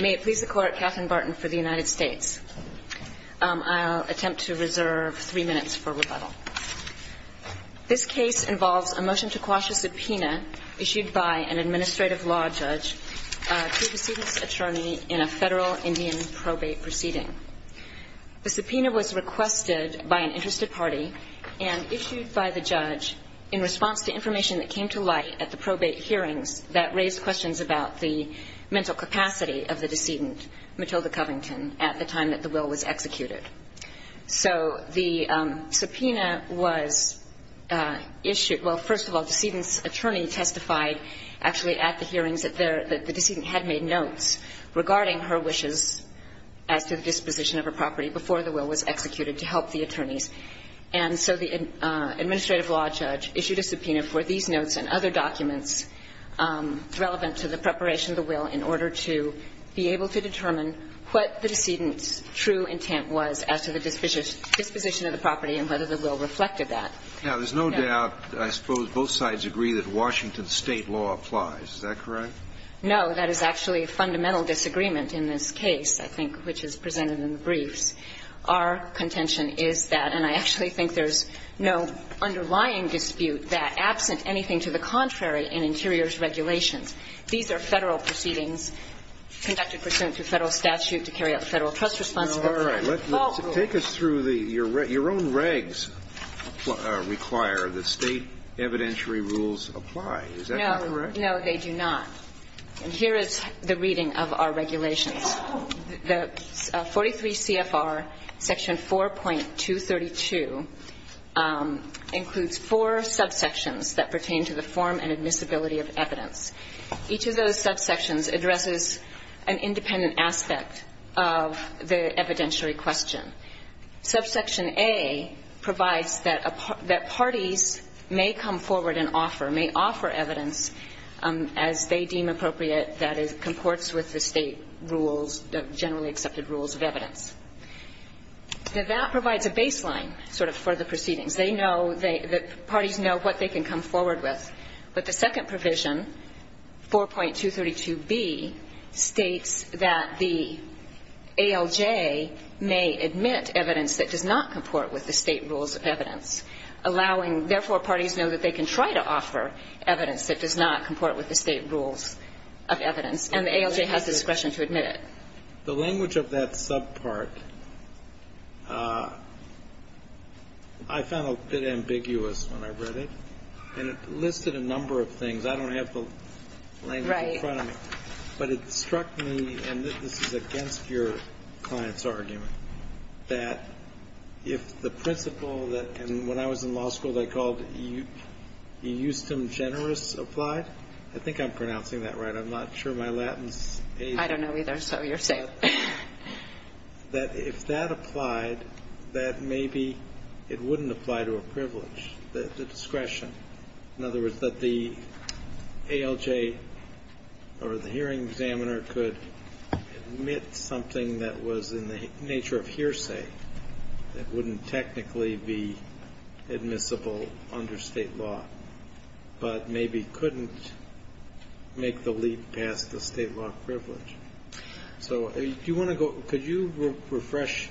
May it please the Court, Katherine Barton for the United States. I'll attempt to reserve three minutes for rebuttal. This case involves a motion to quash a subpoena issued by an administrative law judge to a decedent's attorney in a federal Indian probate proceeding. The subpoena was requested by an interested party and issued by the judge in response to information that came to light at the probate hearings that raised questions about the mental capacity of the decedent, Matilda Covington, at the time that the will was executed. So the subpoena was issued – well, first of all, the decedent's attorney testified actually at the hearings that the decedent had made notes regarding her wishes as to the disposition of her property before the will was executed to help the attorneys. And so the administrative law judge issued a subpoena for these notes and other documents relevant to the preparation of the will in order to be able to determine what the decedent's true intent was as to the disposition of the property and whether the will reflected that. Now, there's no doubt, I suppose, both sides agree that Washington State law applies. Is that correct? No. That is actually a fundamental disagreement in this case, I think, which is presented in the briefs. Our contention is that – and I actually think there's no underlying dispute that, absent anything to the contrary in Interior's regulations, these are Federal proceedings conducted pursuant to Federal statute to carry out Federal trust responsibilities. Well, take us through the – your own regs require that State evidentiary rules apply. Is that not correct? No. No, they do not. And here is the reading of our regulations. The 43 CFR section 4.232 includes four subsections that pertain to the form and admissibility of evidence. Each of those subsections addresses an independent aspect of the evidentiary question. Subsection A provides that parties may come forward and offer – may offer evidence as they deem appropriate that comports with the State rules, generally accepted rules of evidence. Now, that provides a baseline sort of for the proceedings. They know – the parties know what they can come forward with. But the second provision, 4.232B, states that the ALJ may admit evidence that does not comport with the State rules of evidence, allowing – therefore, parties know that they can try to offer evidence that does not comport with the State rules of evidence. And the ALJ has discretion to admit it. The language of that subpart, I found a bit ambiguous when I read it. And it listed a number of things. I don't have the language in front of me. Right. But it struck me, and this is against your client's argument, that if the principle that – and when I was in law school, they called it eustem generis applied. I think I'm pronouncing that right. I'm not sure my Latin's – I don't know either, so you're safe. That if that applied, that maybe it wouldn't apply to a privilege, the discretion. In other words, that the ALJ or the hearing examiner could admit something that was in the nature of hearsay that wouldn't technically be admissible under State law, but maybe couldn't make the leap past the State law privilege. So do you want to go – could you refresh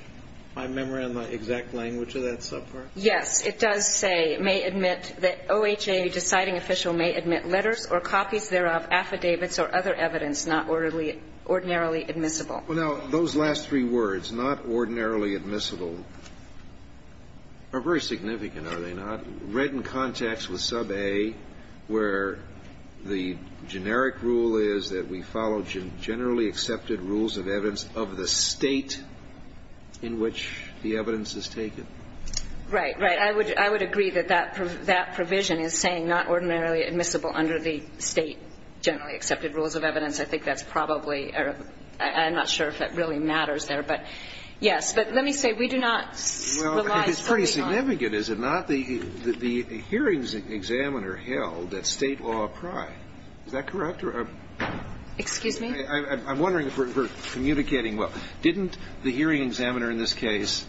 my memory on the exact language of that subpart? Yes. It does say may admit that OHA deciding official may admit letters or copies thereof, affidavits or other evidence not ordinarily admissible. Well, now, those last three words, not ordinarily admissible, are very significant, are they not? Read in context with sub A where the generic rule is that we follow generally accepted rules of evidence of the State in which the evidence is taken. Right, right. I would agree that that provision is saying not ordinarily admissible under the State generally accepted rules of evidence. I think that's probably – I'm not sure if it really matters there, but yes. But let me say we do not rely solely on – Well, if it's pretty significant, is it not? The hearings examiner held that State law applied. Is that correct? Excuse me? I'm wondering if we're communicating well. Didn't the hearing examiner in this case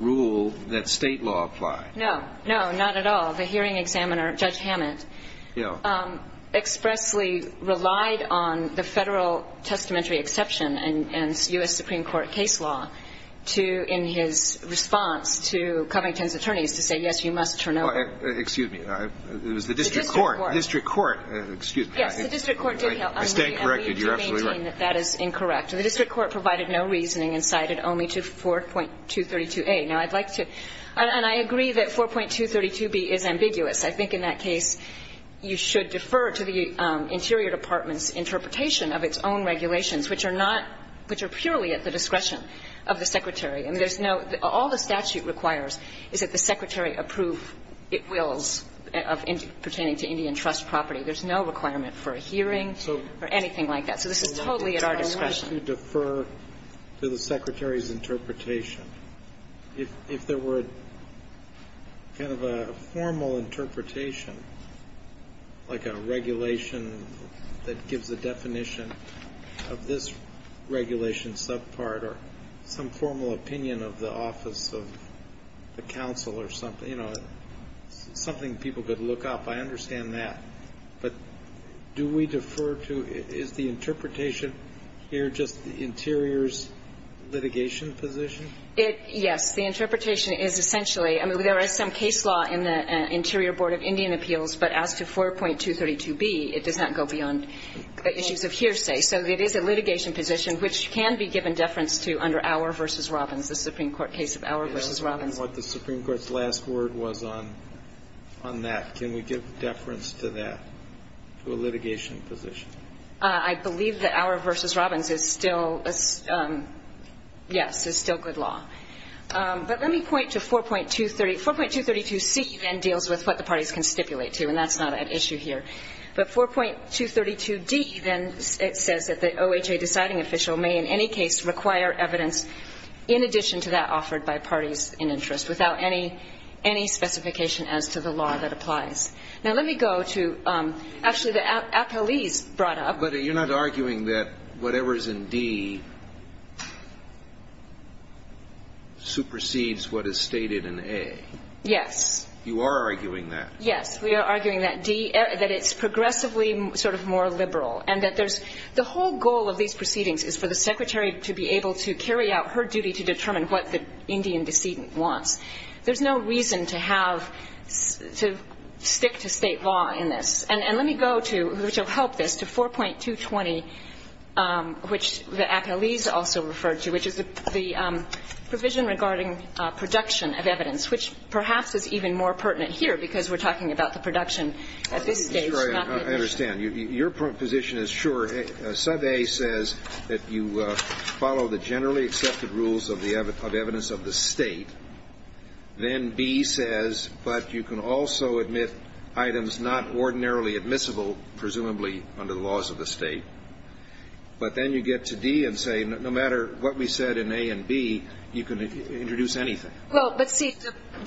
rule that State law applied? No. No, not at all. The hearing examiner, Judge Hammett, expressly relied on the Federal testamentary exception and U.S. Supreme Court case law to – in his response to Covington's attorneys to say, yes, you must turn over. Excuse me. It was the district court. The district court. District court. Excuse me. Yes, the district court did help. I stand corrected. You're absolutely right. That is incorrect. The district court provided no reasoning and cited only to 4.232a. Now, I'd like to – and I agree that 4.232b is ambiguous. I think in that case you should defer to the Interior Department's interpretation of its own regulations, which are not – which are purely at the discretion of the Secretary. I mean, there's no – all the statute requires is that the Secretary approve its wills of pertaining to Indian trust property. There's no requirement for a hearing or anything like that. So this is totally at our discretion. I wanted to defer to the Secretary's interpretation. If there were kind of a formal interpretation, like a regulation that gives a definition of this regulation subpart or some formal opinion of the office of the counsel or something, you know, something people could look up, I understand that. But do we defer to – is the interpretation here just the Interior's litigation position? It – yes. The interpretation is essentially – I mean, there is some case law in the Interior Board of Indian Appeals, but as to 4.232b, it does not go beyond issues of hearsay. So it is a litigation position which can be given deference to under Auer v. Robbins, the Supreme Court case of Auer v. Robbins. And what the Supreme Court's last word was on that. Can we give deference to that, to a litigation position? I believe that Auer v. Robbins is still – yes, is still good law. But let me point to 4.230 – 4.232c then deals with what the parties can stipulate to, and that's not at issue here. But 4.232d then says that the OHA deciding official may in any case require evidence in addition to that offered by parties in interest without any – any specification as to the law that applies. Now, let me go to – actually, the appellees brought up – But you're not arguing that whatever's in d supersedes what is stated in a. Yes. You are arguing that. Yes. We are arguing that d – that it's progressively sort of more liberal and that there's The whole goal of these proceedings is for the Secretary to be able to carry out her duty to determine what the Indian decedent wants. There's no reason to have – to stick to State law in this. And let me go to, which will help this, to 4.220, which the appellees also referred to, which is the provision regarding production of evidence, which perhaps is even more pertinent here because we're talking about the production at this stage, not litigation. I understand. Your position is sure. Sub a says that you follow the generally accepted rules of evidence of the State. Then b says, but you can also admit items not ordinarily admissible, presumably under the laws of the State. But then you get to d and say, no matter what we said in a and b, you can introduce anything. Well, but see,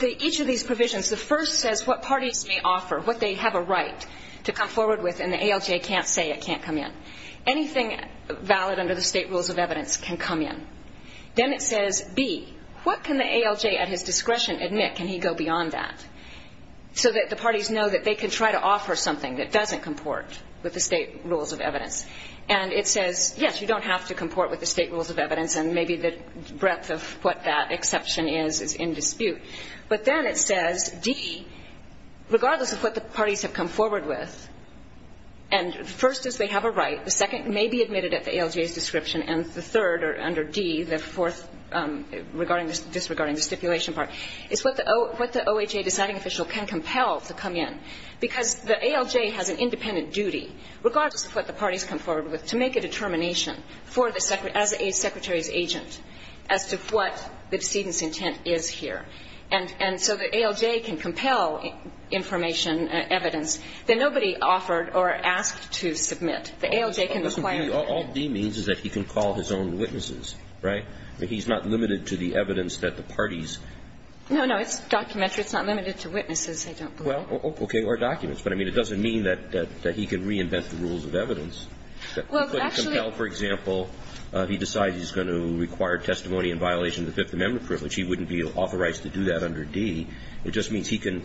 each of these provisions, the first says what parties may offer, what they have a right to come forward with, and the ALJ can't say it can't come in. Anything valid under the State rules of evidence can come in. Then it says, b, what can the ALJ at his discretion admit? Can he go beyond that? So that the parties know that they can try to offer something that doesn't comport with the State rules of evidence. And it says, yes, you don't have to comport with the State rules of evidence, and maybe the breadth of what that exception is is in dispute. But then it says, d, regardless of what the parties have come forward with, and the first is they have a right, the second may be admitted at the ALJ's description, and the third under d, the fourth disregarding the stipulation part, is what the OHA deciding official can compel to come in, because the ALJ has an independent duty, regardless of what the parties come forward with, to make a determination as a Secretary's agent as to what the decedent's intent is here. And so the ALJ can compel information, evidence, that nobody offered or asked to submit. The ALJ can require it. All d means is that he can call his own witnesses, right? He's not limited to the evidence that the parties. No, no. It's documentary. It's not limited to witnesses, I don't believe. Well, okay, or documents. But, I mean, it doesn't mean that he can reinvent the rules of evidence. He couldn't compel, for example, he decides he's going to require testimony in violation of the Fifth Amendment privilege. He wouldn't be authorized to do that under d. It just means he can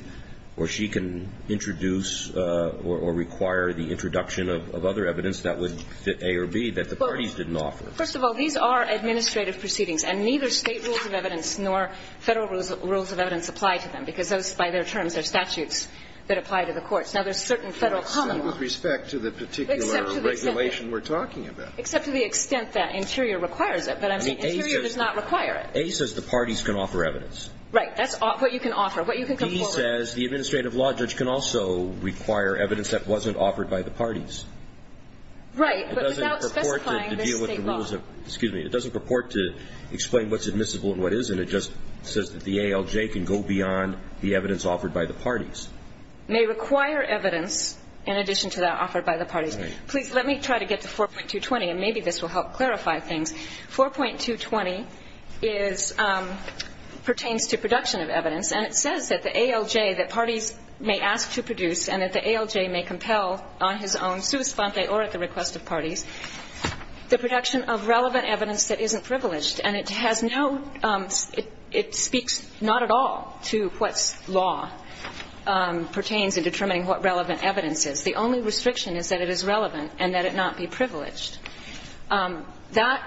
or she can introduce or require the introduction of other evidence that would fit a or b that the parties didn't offer. First of all, these are administrative proceedings, and neither State rules of evidence nor Federal rules of evidence apply to them, because those, by their terms, are statutes that apply to the courts. Now, there's certain Federal common law. With respect to the particular regulation we're talking about. Except to the extent that Interior requires it. But I'm saying Interior does not require it. A says the parties can offer evidence. Right. That's what you can offer, what you can come forward with. B says the administrative law judge can also require evidence that wasn't offered by the parties. Right. But without specifying this State law. It doesn't purport to deal with the rules of, excuse me, it doesn't purport to explain what's admissible and what isn't. It just says that the ALJ can go beyond the evidence offered by the parties. The ALJ may require evidence in addition to that offered by the parties. Right. Please let me try to get to 4.220, and maybe this will help clarify things. 4.220 is, pertains to production of evidence. And it says that the ALJ, that parties may ask to produce and that the ALJ may compel on his own, sua sponte, or at the request of parties, the production of relevant evidence that isn't privileged. And it has no, it speaks not at all to what's law pertains in determining what relevant evidence is. The only restriction is that it is relevant and that it not be privileged. That,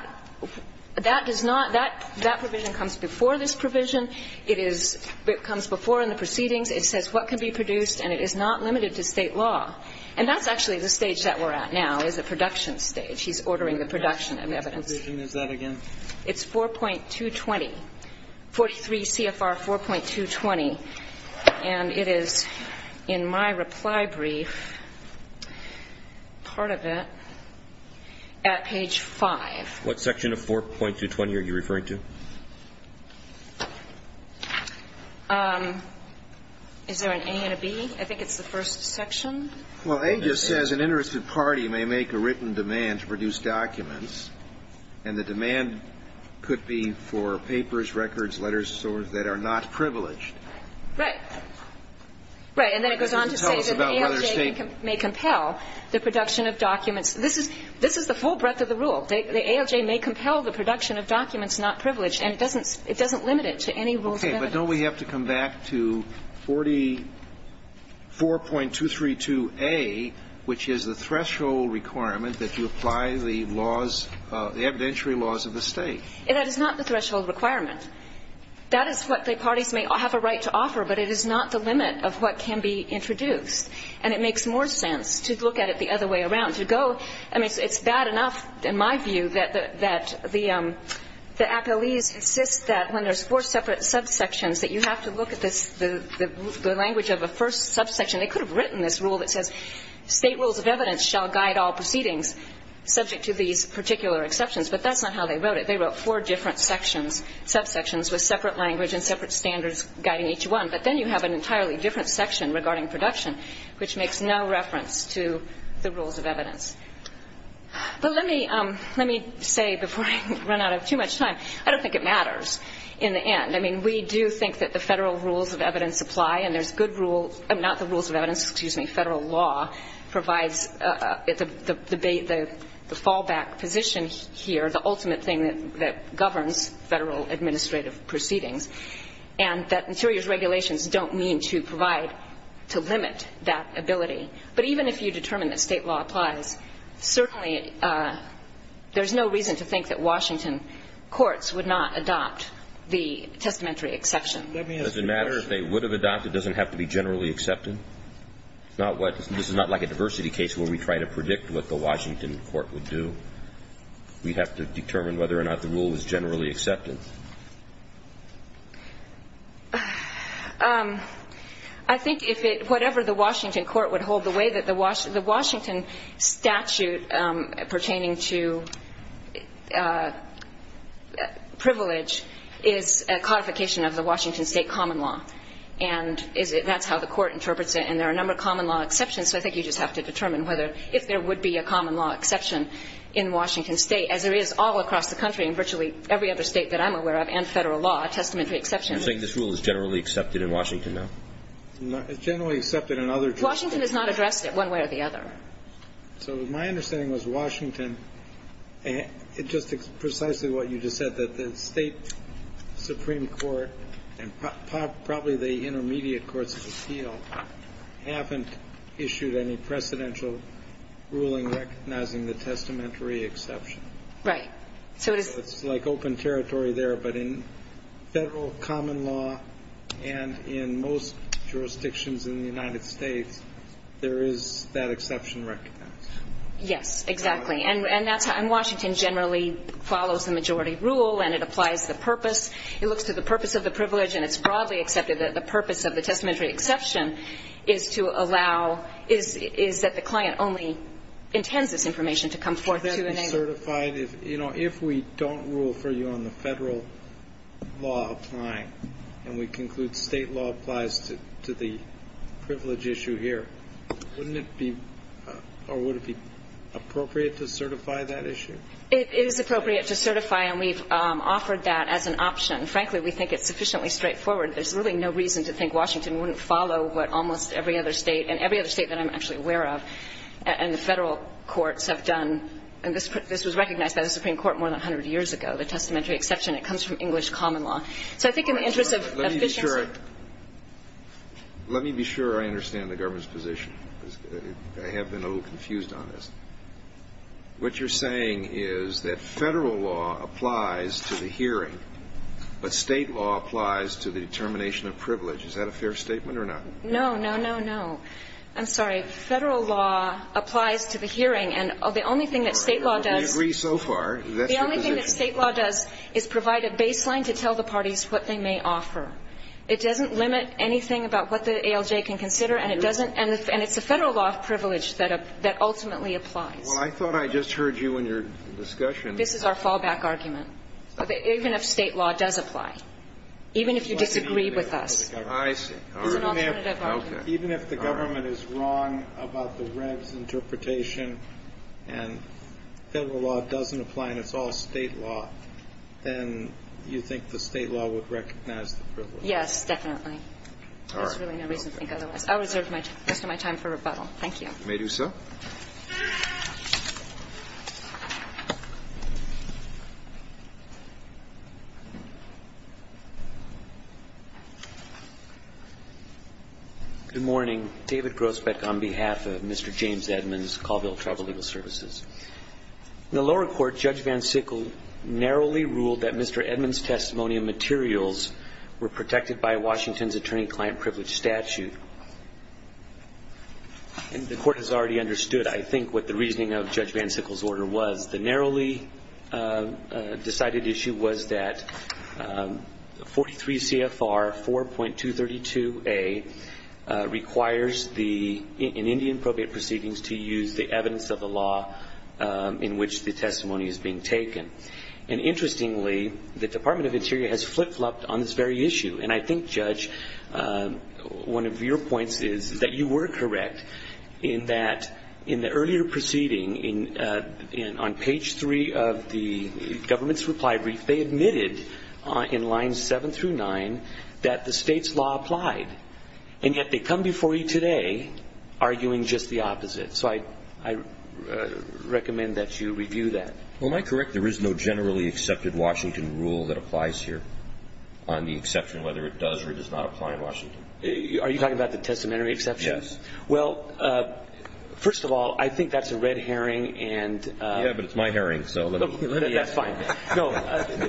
that does not, that provision comes before this provision. It is, it comes before in the proceedings. It says what can be produced, and it is not limited to State law. And that's actually the stage that we're at now, is the production stage. He's ordering the production of evidence. What provision is that again? It's 4.220, 43 CFR 4.220. And it is in my reply brief, part of it, at page 5. What section of 4.220 are you referring to? Is there an A and a B? I think it's the first section. Well, A just says an interested party may make a written demand to produce documents, and the demand could be for papers, records, letters, swords that are not privileged. Right. Right. And then it goes on to say that the ALJ may compel the production of documents. This is, this is the full breadth of the rule. The ALJ may compel the production of documents not privileged, and it doesn't, it doesn't limit it to any rules of evidence. Okay. But don't we have to come back to 44.232A, which is the threshold requirement that you apply the laws, the evidentiary laws of the State? That is not the threshold requirement. That is what the parties may have a right to offer, but it is not the limit of what can be introduced. And it makes more sense to look at it the other way around, to go, I mean, it's bad enough, in my view, that the, that the, the appellees insist that when there's four separate subsections, that you have to look at this, the language of a first subsection. They could have written this rule that says State rules of evidence shall guide all proceedings, subject to these particular exceptions. But that's not how they wrote it. They wrote four different sections, subsections with separate language and separate standards guiding each one. But then you have an entirely different section regarding production, which makes no reference to the rules of evidence. But let me, let me say, before I run out of too much time, I don't think it matters in the end. I mean, we do think that the Federal rules of evidence apply, and there's good rule, not the rules of evidence, excuse me, Federal law provides the fallback position here, the ultimate thing that governs Federal administrative proceedings, and that Interior's regulations don't mean to provide, to limit that ability. But even if you determine that State law applies, certainly there's no reason to think that Washington courts would not adopt the testamentary exception. Let me ask you a question. Does it matter if they would have adopted, doesn't have to be generally accepted? It's not what, this is not like a diversity case where we try to predict what the Washington court would do. We have to determine whether or not the rule is generally accepted. I think if it, whatever the Washington court would hold the way that the Washington statute pertaining to privilege is a codification of the Washington State common law, and that's how the court interprets it, and there are a number of common law exceptions, so I think you just have to determine whether, if there would be a common law exception in Washington State, as there is all across the country and virtually every other State that I'm aware of and Federal law, a testamentary exception. You're saying this rule is generally accepted in Washington now? It's generally accepted in other states. Washington has not addressed it one way or the other. So my understanding was Washington, just precisely what you just said, that the State supreme court and probably the intermediate courts of appeal haven't issued any precedential ruling recognizing the testamentary exception. Right. So it's like open territory there, but in Federal common law and in most jurisdictions in the United States, there is that exception recognized. Yes, exactly. And that's how, and Washington generally follows the majority rule and it applies to the purpose. It looks to the purpose of the privilege and it's broadly accepted that the purpose of the testamentary exception is to allow, is that the client only intends this information to come forth to the neighbor. If we don't rule for you on the Federal law applying and we conclude State law applies to the privilege issue here, wouldn't it be, or would it be appropriate to certify that issue? It is appropriate to certify and we've offered that as an option. Frankly, we think it's sufficiently straightforward. There's really no reason to think Washington wouldn't follow what almost every other State and every other State that I'm actually aware of and the Federal courts have done, and this was recognized by the Supreme Court more than a hundred years ago, the testamentary exception. It comes from English common law. So I think in the interest of efficiency. Let me be sure I understand the government's position. I have been a little confused on this. What you're saying is that Federal law applies to the hearing, but State law applies to the determination of privilege. Is that a fair statement or not? No, no, no, no. I'm sorry. Federal law applies to the hearing, and the only thing that State law does. We agree so far. That's your position. The only thing that State law does is provide a baseline to tell the parties what they may offer. It doesn't limit anything about what the ALJ can consider and it doesn't, and it's a Federal law privilege that ultimately applies. Well, I thought I just heard you in your discussion. This is our fallback argument. Even if you disagree with us. I see. All right. Even if the government is wrong about the Reg's interpretation and Federal law doesn't apply and it's all State law, then you think the State law would recognize the privilege? Yes, definitely. There's really no reason to think otherwise. I'll reserve the rest of my time for rebuttal. Thank you. You may do so. Good morning. David Grosbeck on behalf of Mr. James Edmunds, Colville Tribal Legal Services. In the lower court, Judge Van Sickle narrowly ruled that Mr. Edmunds' testimony and materials were protected by Washington's attorney-client privilege statute. The court has already understood, I think, what the reasoning of Judge Van Sickle's order was. The narrowly decided issue was that 43 CFR 4.232A requires in Indian probate proceedings to use the evidence of the law in which the testimony is being taken. And interestingly, the Department of Interior has flip-flopped on this very issue. And I think, Judge, one of your points is that you were correct in that in the earlier proceeding, on page 3 of the government's reply brief, they admitted in lines 7 through 9 that the state's law applied. And yet they come before you today arguing just the opposite. So I recommend that you review that. Well, am I correct there is no generally accepted Washington rule that applies here on the exception of whether it does or does not apply in Washington? Are you talking about the testamentary exception? Yes. Well, first of all, I think that's a red herring. Yeah, but it's my herring, so let me ask. That's fine. No,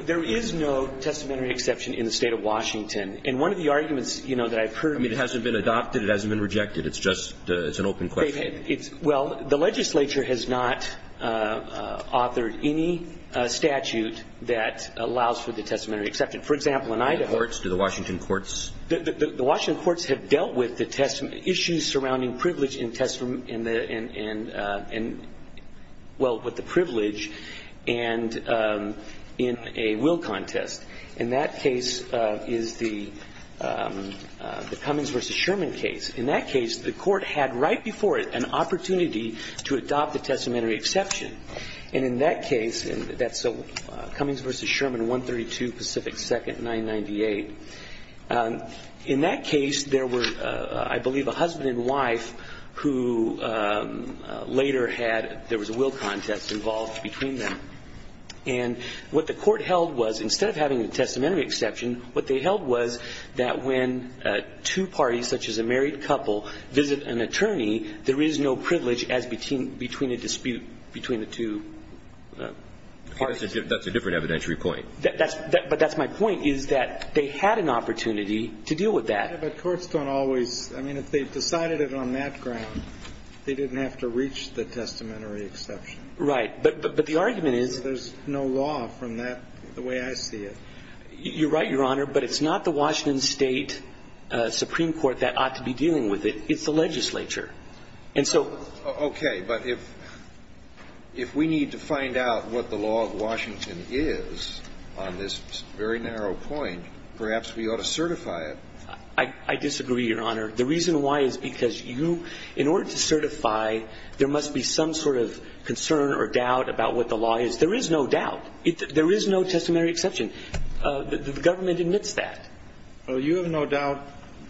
there is no testamentary exception in the State of Washington. And one of the arguments, you know, that I've heard of. I mean, it hasn't been adopted. It hasn't been rejected. It's just an open question. Well, the legislature has not authored any statute that allows for the testamentary exception. For example, in Idaho. Do the Washington courts? The Washington courts have dealt with the testament issues surrounding privilege and, well, with the privilege and in a will contest. And that case is the Cummings v. Sherman case. In that case, the court had right before it an opportunity to adopt the testamentary exception. And in that case, that's Cummings v. Sherman, 132 Pacific 2nd, 998. In that case, there were, I believe, a husband and wife who later had ‑‑ there was a will contest involved between them. And what the court held was, instead of having a testamentary exception, what they held was that when two parties, such as a married couple, visit an attorney, there is no privilege as between a dispute between the two parties. That's a different evidentiary point. But that's my point, is that they had an opportunity to deal with that. Yeah, but courts don't always ‑‑ I mean, if they decided it on that ground, they didn't have to reach the testamentary exception. Right. But the argument is ‑‑ There's no law from that, the way I see it. You're right, Your Honor, but it's not the Washington State Supreme Court that ought to be dealing with it. It's the legislature. And so ‑‑ Okay. But if we need to find out what the law of Washington is on this very narrow point, perhaps we ought to certify it. I disagree, Your Honor. The reason why is because you, in order to certify, there must be some sort of concern or doubt about what the law is. There is no doubt. There is no testamentary exception. The government admits that. Well, you have no doubt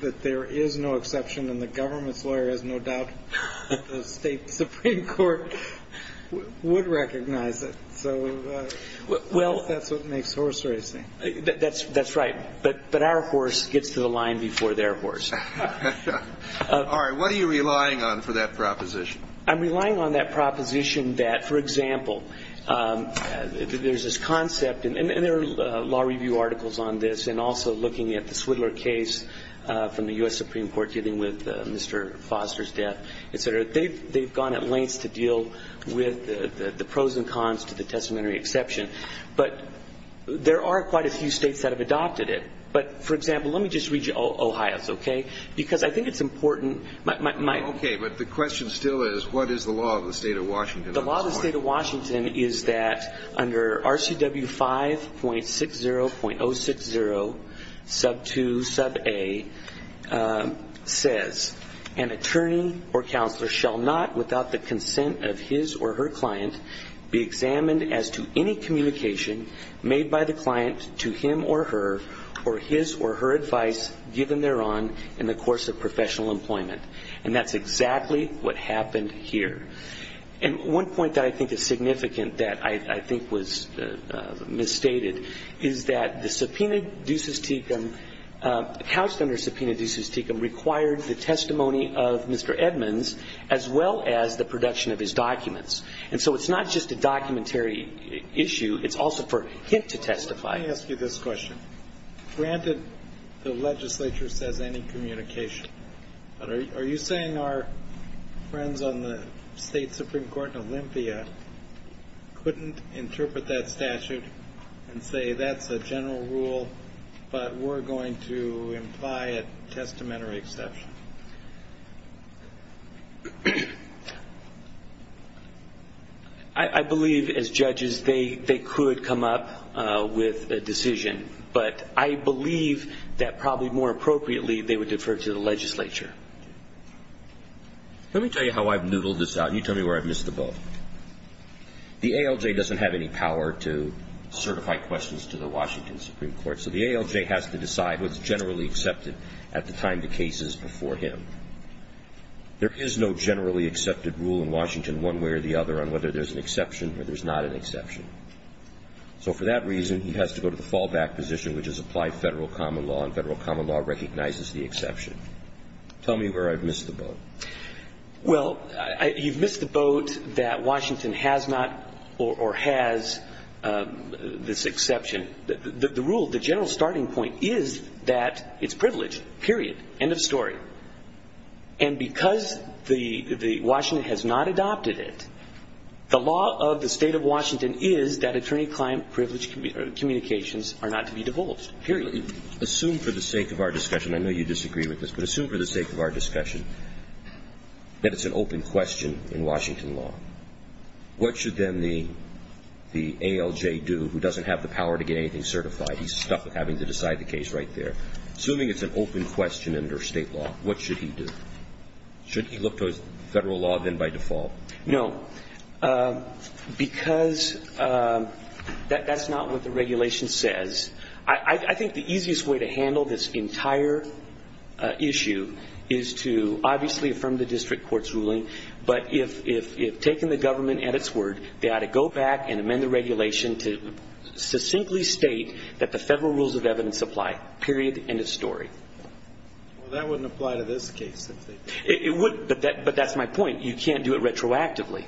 that there is no exception and the government's lawyer has no doubt that the State Supreme Court would recognize it. So that's what makes horse racing. That's right. But our horse gets to the line before their horse. All right. What are you relying on for that proposition? I'm relying on that proposition that, for example, there's this concept, and there are law review articles on this, and also looking at the Swidler case from the U.S. Supreme Court dealing with Mr. Foster's death, et cetera. They've gone at lengths to deal with the pros and cons to the testamentary exception. But there are quite a few states that have adopted it. But, for example, let me just read you Ohio's, okay? Because I think it's important. Okay. But the question still is, what is the law of the State of Washington on this point? And that's exactly what happened here. And one point that I think is significant that I think was misstated is that the subpoena ducis tecum couched under subpoena ducis tecum required the testimony of Mr. Edmonds as well as the production of his documents. And so it's not just a documentary issue. It's also for him to testify. Let me ask you this question. Granted, the legislature says any communication, but are you saying our friends on the State Supreme Court in Olympia couldn't interpret that statute and say that's a general rule but we're going to imply a testamentary exception? I believe, as judges, they could come up with a decision. But I believe that probably more appropriately they would defer to the legislature. Let me tell you how I've noodled this out, and you tell me where I've missed the boat. The ALJ doesn't have any power to certify questions to the Washington Supreme Court, so the ALJ has to decide what's generally accepted at the time the case is before him. There is no generally accepted rule in Washington one way or the other on whether there's an exception or there's not an exception. So for that reason, he has to go to the fallback position, which is apply federal common law, and federal common law recognizes the exception. Tell me where I've missed the boat. Well, you've missed the boat that Washington has not or has this exception. The rule, the general starting point, is that it's privileged, period, end of story. And because Washington has not adopted it, the law of the State of Washington is that attorney-client privileged communications are not to be divulged, period. Assume for the sake of our discussion, I know you disagree with this, but assume for the sake of our discussion that it's an open question in Washington law. What should then the ALJ do who doesn't have the power to get anything certified? He's stuck with having to decide the case right there. Assuming it's an open question under state law, what should he do? Should he look to his federal law then by default? No, because that's not what the regulation says. I think the easiest way to handle this entire issue is to obviously affirm the district court's ruling, but if taken the government at its word, they ought to go back and amend the regulation to succinctly state that the federal rules of evidence apply, period, end of story. Well, that wouldn't apply to this case. It would, but that's my point. You can't do it retroactively.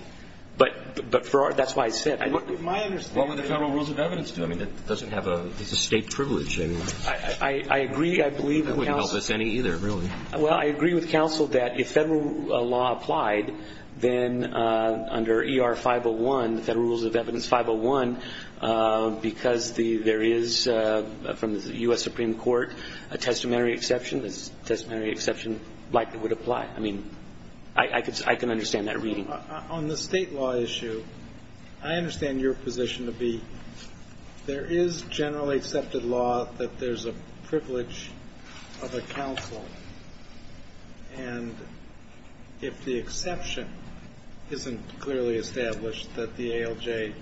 But that's why I said it. What would the federal rules of evidence do? I mean, it doesn't have a state privilege. I agree, I believe. That wouldn't help us any either, really. Well, I agree with counsel that if federal law applied, then under ER 501, the Federal Rules of Evidence 501, because there is from the U.S. Supreme Court a testamentary exception, this testamentary exception likely would apply. I mean, I can understand that reading. On the state law issue, I understand your position to be there is generally accepted law that there's a privilege of a counsel, and if the exception isn't clearly established, that the ALJ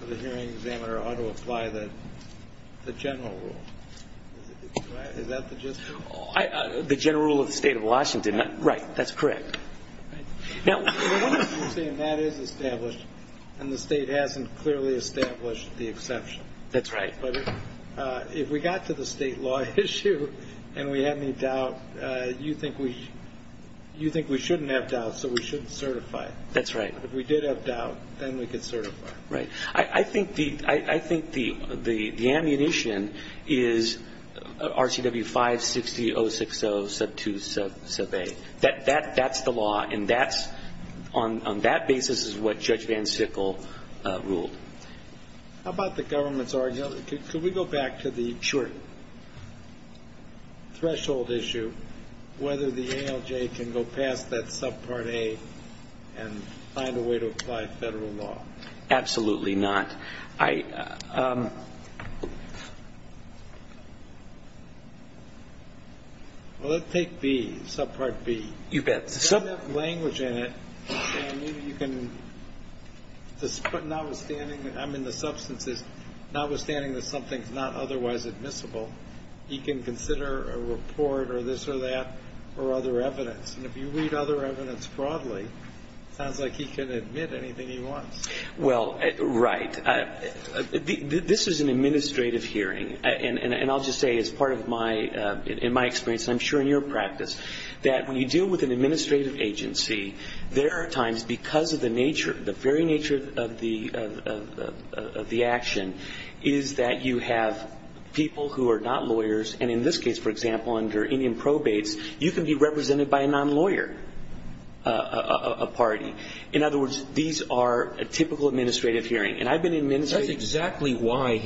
or the hearing examiner ought to apply the general rule. Is that the gist of it? The general rule of the State of Washington, right. That's correct. Now, what if you're saying that is established and the state hasn't clearly established the exception? That's right. But if we got to the state law issue and we had any doubt, you think we shouldn't have doubt, so we shouldn't certify it. That's right. If we did have doubt, then we could certify it. Right. I think the ammunition is RCW 560.060.2. That's the law, and on that basis is what Judge Van Sickle ruled. How about the government's argument? Could we go back to the short threshold issue, whether the ALJ can go past that subpart A and find a way to apply federal law? Absolutely not. Well, let's take B, subpart B. You bet. It doesn't have language in it. I mean, the substance is notwithstanding that something is not otherwise admissible, he can consider a report or this or that or other evidence. And if you read other evidence broadly, it sounds like he can admit anything he wants. Well, right. This is an administrative hearing, and I'll just say as part of my experience, and I'm sure in your practice, that when you deal with an administrative agency, there are times because of the nature, the very nature of the action, is that you have people who are not lawyers, and in this case, for example, under Indian probates, you can be represented by a non-lawyer, a party. In other words, these are a typical administrative hearing. And I've been in administrative hearings. That's exactly why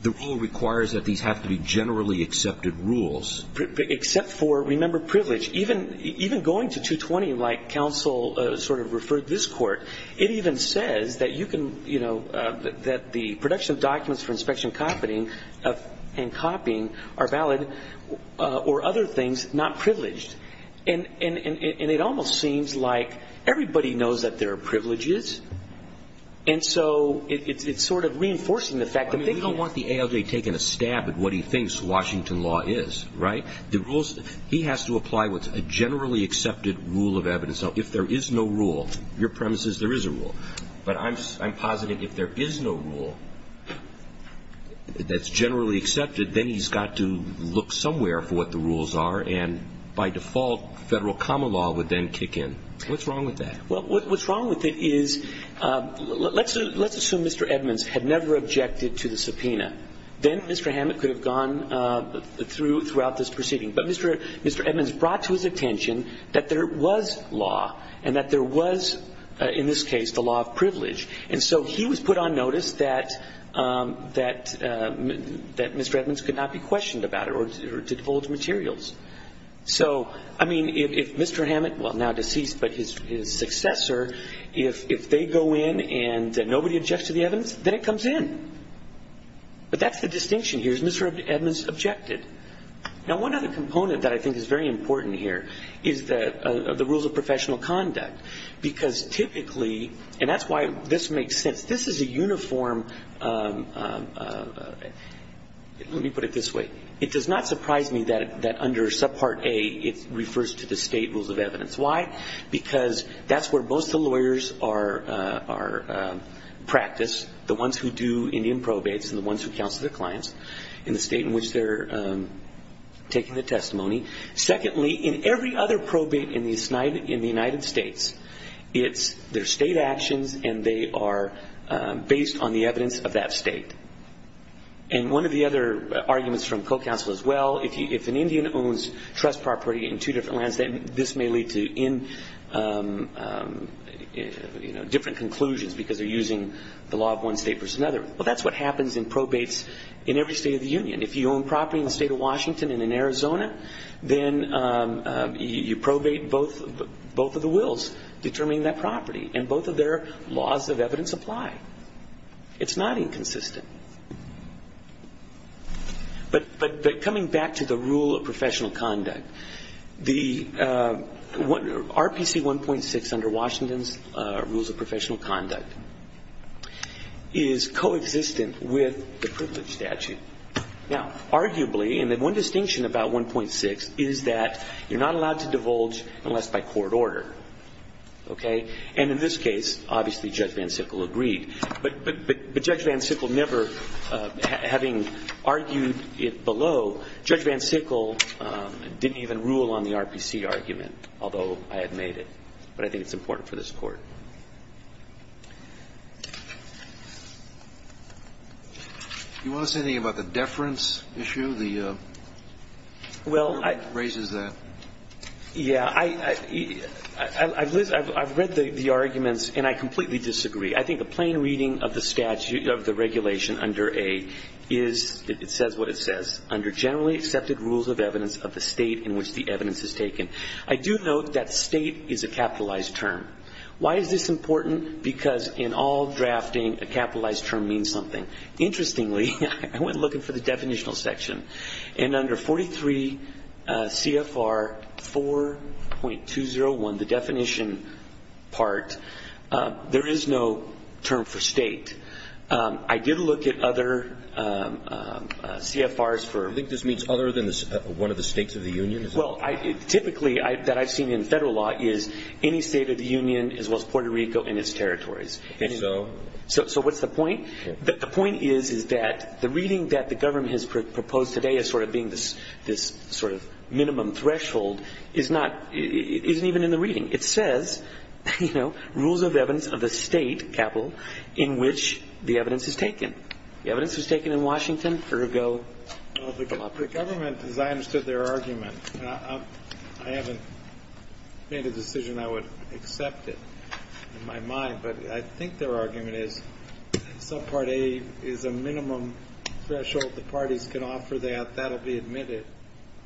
the rule requires that these have to be generally accepted rules. Except for, remember, privilege. Even going to 220, like counsel sort of referred this court, it even says that the production of documents for inspection and copying are valid or other things not privileged. And it almost seems like everybody knows that there are privileges, and so it's sort of reinforcing the fact that they can't. I mean, we don't want the ALJ taking a stab at what he thinks Washington law is, right? He has to apply what's a generally accepted rule of evidence. Now, if there is no rule, your premise is there is a rule. But I'm positing if there is no rule that's generally accepted, then he's got to look somewhere for what the rules are, and by default, federal common law would then kick in. What's wrong with that? Well, what's wrong with it is let's assume Mr. Edmonds had never objected to the subpoena. Then Mr. Hammett could have gone throughout this proceeding. But Mr. Edmonds brought to his attention that there was law and that there was, in this case, the law of privilege. And so he was put on notice that Mr. Edmonds could not be questioned about it or divulge materials. So, I mean, if Mr. Hammett, well, now deceased, but his successor, if they go in and nobody objects to the evidence, then it comes in. But that's the distinction here is Mr. Edmonds objected. Now, one other component that I think is very important here is the rules of professional conduct because typically, and that's why this makes sense, this is a uniform, let me put it this way, it does not surprise me that under subpart A it refers to the state rules of evidence. Why? Because that's where most of the lawyers are practiced, the ones who do Indian probates and the ones who counsel their clients, in the state in which they're taking the testimony. Secondly, in every other probate in the United States, it's their state actions and they are based on the evidence of that state. And one of the other arguments from co-counsel as well, if an Indian owns trust property in two different lands, then this may lead to different conclusions because they're using the law of one state versus another. Well, that's what happens in probates in every state of the union. If you own property in the state of Washington and in Arizona, then you probate both of the wills determining that property, and both of their laws of evidence apply. It's not inconsistent. But coming back to the rule of professional conduct, RPC 1.6 under Washington's rules of professional conduct is co-existent with the privilege statute. Now, arguably, and the one distinction about 1.6 is that you're not allowed to divulge unless by court order. Okay? And in this case, obviously, Judge Van Sickle agreed. But Judge Van Sickle never, having argued it below, Judge Van Sickle didn't even rule on the RPC argument, although I had made it. But I think it's important for this Court. Do you want to say anything about the deference issue? The court raises that. Yeah, I've read the arguments, and I completely disagree. I think a plain reading of the statute, of the regulation under A, it says what it says. Under generally accepted rules of evidence of the state in which the evidence is taken. I do note that state is a capitalized term. Why is this important? Because in all drafting, a capitalized term means something. Interestingly, I went looking for the definitional section. And under 43 CFR 4.201, the definition part, there is no term for state. I did look at other CFRs for... You think this means other than one of the states of the union? Well, typically, that I've seen in federal law is any state of the union as well as Puerto Rico and its territories. So what's the point? The point is, is that the reading that the government has proposed today as sort of being this sort of minimum threshold is not... isn't even in the reading. It says, you know, rules of evidence of the state, capital, in which the evidence is taken. The evidence is taken in Washington, Puerto Rico. The government, as I understood their argument... I haven't made a decision I would accept it in my mind. But I think their argument is subpart A is a minimum threshold. The parties can offer that. That will be admitted.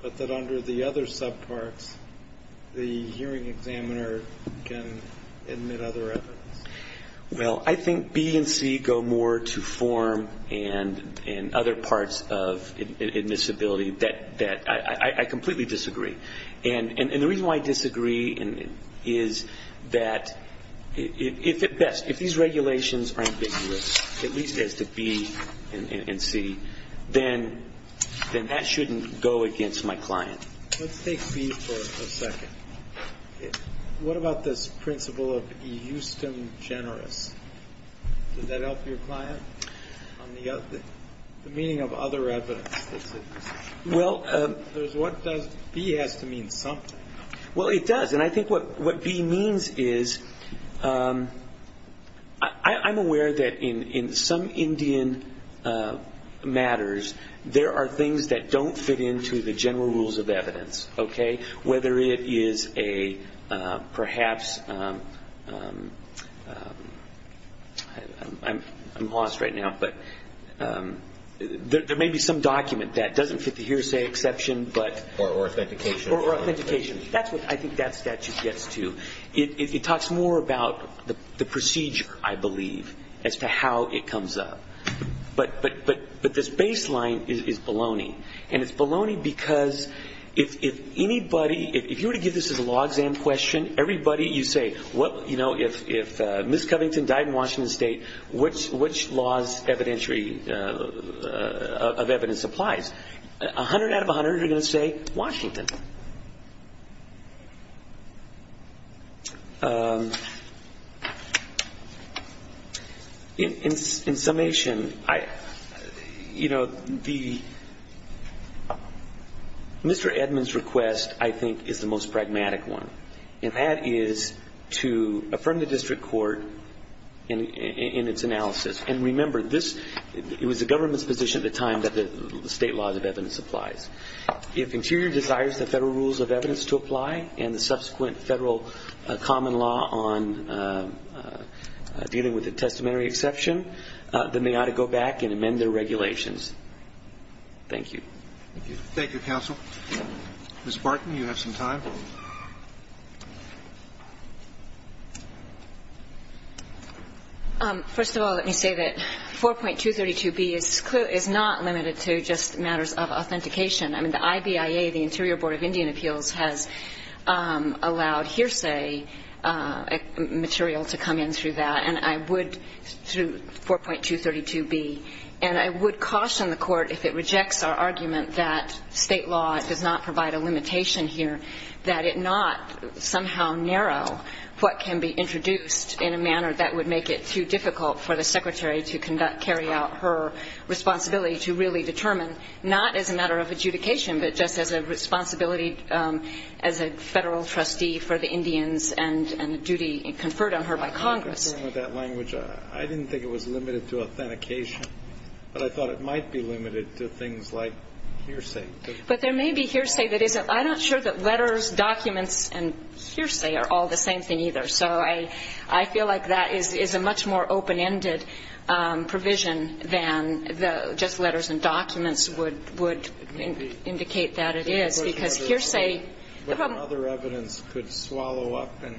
But that under the other subparts, the hearing examiner can admit other evidence. Well, I think B and C go more to form and other parts of admissibility that I completely disagree. And the reason why I disagree is that if at best, if these regulations are ambiguous, at least as to B and C, then that shouldn't go against my client. Let's take B for a second. What about this principle of eustem generis? Does that help your client on the meaning of other evidence? Well... B has to mean something. Well, it does. And I think what B means is I'm aware that in some Indian matters, there are things that don't fit into the general rules of evidence. Okay? Whether it is a perhaps... I'm lost right now. But there may be some document that doesn't fit the hearsay exception. Or authentication. Or authentication. That's what I think that statute gets to. It talks more about the procedure, I believe, as to how it comes up. But this baseline is baloney. And it's baloney because if anybody... If you were to give this as a law exam question, everybody... You say, well, you know, if Ms. Covington died in Washington State, which laws of evidence applies? A hundred out of a hundred are going to say Washington. In summation, I... You know, the... Mr. Edmund's request, I think, is the most pragmatic one. And that is to affirm the district court in its analysis. And remember, this... It was the government's position at the time that the state laws of evidence applies. If Interior desires the Federal rules of evidence to apply... And the subsequent Federal common law on dealing with a testamentary exception... Then they ought to go back and amend their regulations. Thank you. Thank you, counsel. Ms. Barton, you have some time. First of all, let me say that 4.232B is not limited to just matters of authentication. I mean, the IBIA, the Interior Board of Indian Appeals, has allowed hearsay material to come in through that. And I would... Through 4.232B. And I would caution the Court if it rejects our argument that state law does not provide a limitation here. That it not somehow narrow what can be introduced in a manner that would make it too difficult for the Secretary to carry out her responsibility to really determine, not as a matter of adjudication, but just as a responsibility as a Federal trustee for the Indians and a duty conferred on her by Congress. I didn't think it was limited to authentication, but I thought it might be limited to things like hearsay. But there may be hearsay that isn't... Letters, documents, and hearsay are all the same thing, either. So I feel like that is a much more open-ended provision than just letters and documents would indicate that it is. Because hearsay... But other evidence could swallow up and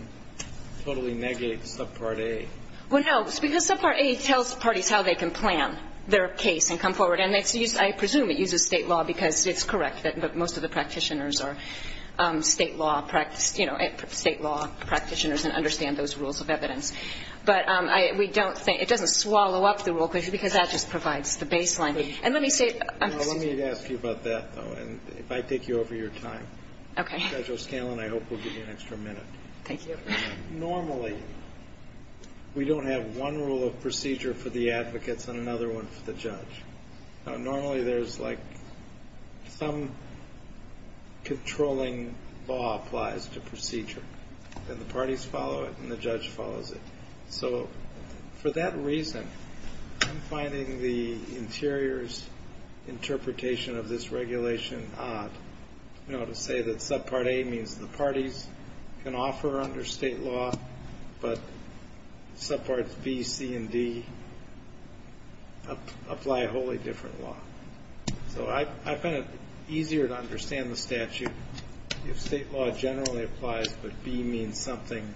totally negate subpart A. Well, no, because subpart A tells parties how they can plan their case and come forward. And I presume it uses state law, because it's correct that most of the practitioners are state law practitioners and understand those rules of evidence. But we don't think... It doesn't swallow up the rule, because that just provides the baseline. And let me say... Let me ask you about that, though, and if I take you over your time. Okay. Judge O'Scanlan, I hope we'll give you an extra minute. Thank you. Normally, we don't have one rule of procedure for the advocates and another one for the judge. Normally, there's like some controlling law applies to procedure, and the parties follow it and the judge follows it. So for that reason, I'm finding the interior's interpretation of this regulation odd. You know, to say that subpart A means the parties can offer under state law, but subparts B, C, and D apply a wholly different law. So I find it easier to understand the statute if state law generally applies, but B means something,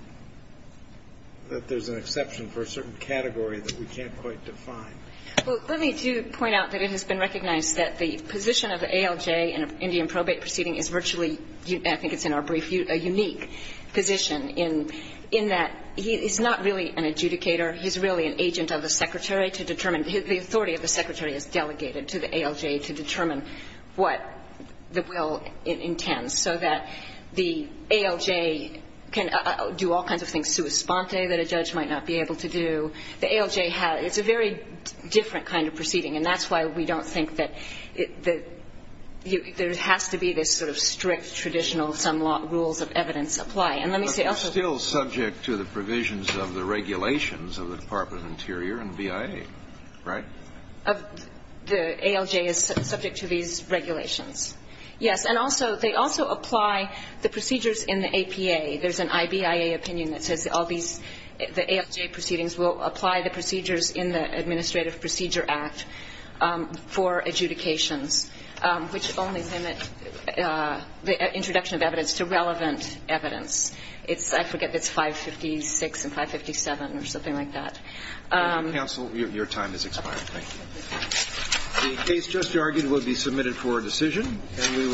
that there's an exception for a certain category that we can't quite define. Well, let me do point out that it has been recognized that the position of the ALJ in an Indian probate proceeding is virtually, I think it's in our brief, a unique position, in that he's not really an adjudicator. He's really an agent of the secretary to determine... The authority of the secretary is delegated to the ALJ to determine what the will intends, so that the ALJ can do all kinds of things sui sponte that a judge might not be able to do. The ALJ has... It's a very different kind of proceeding, and that's why we don't think that there has to be this sort of strict, traditional, some rules of evidence apply. And let me say also... But it's still subject to the provisions of the regulations of the Department of Interior and BIA, right? The ALJ is subject to these regulations, yes. And also, they also apply the procedures in the APA. There's an IBIA opinion that says all these, the ALJ proceedings will apply the procedures in the Administrative Procedure Act for adjudications, which only limit the introduction of evidence to relevant evidence. It's, I forget, it's 556 and 557 or something like that. Counsel, your time has expired. Thank you. The case just argued will be submitted for decision.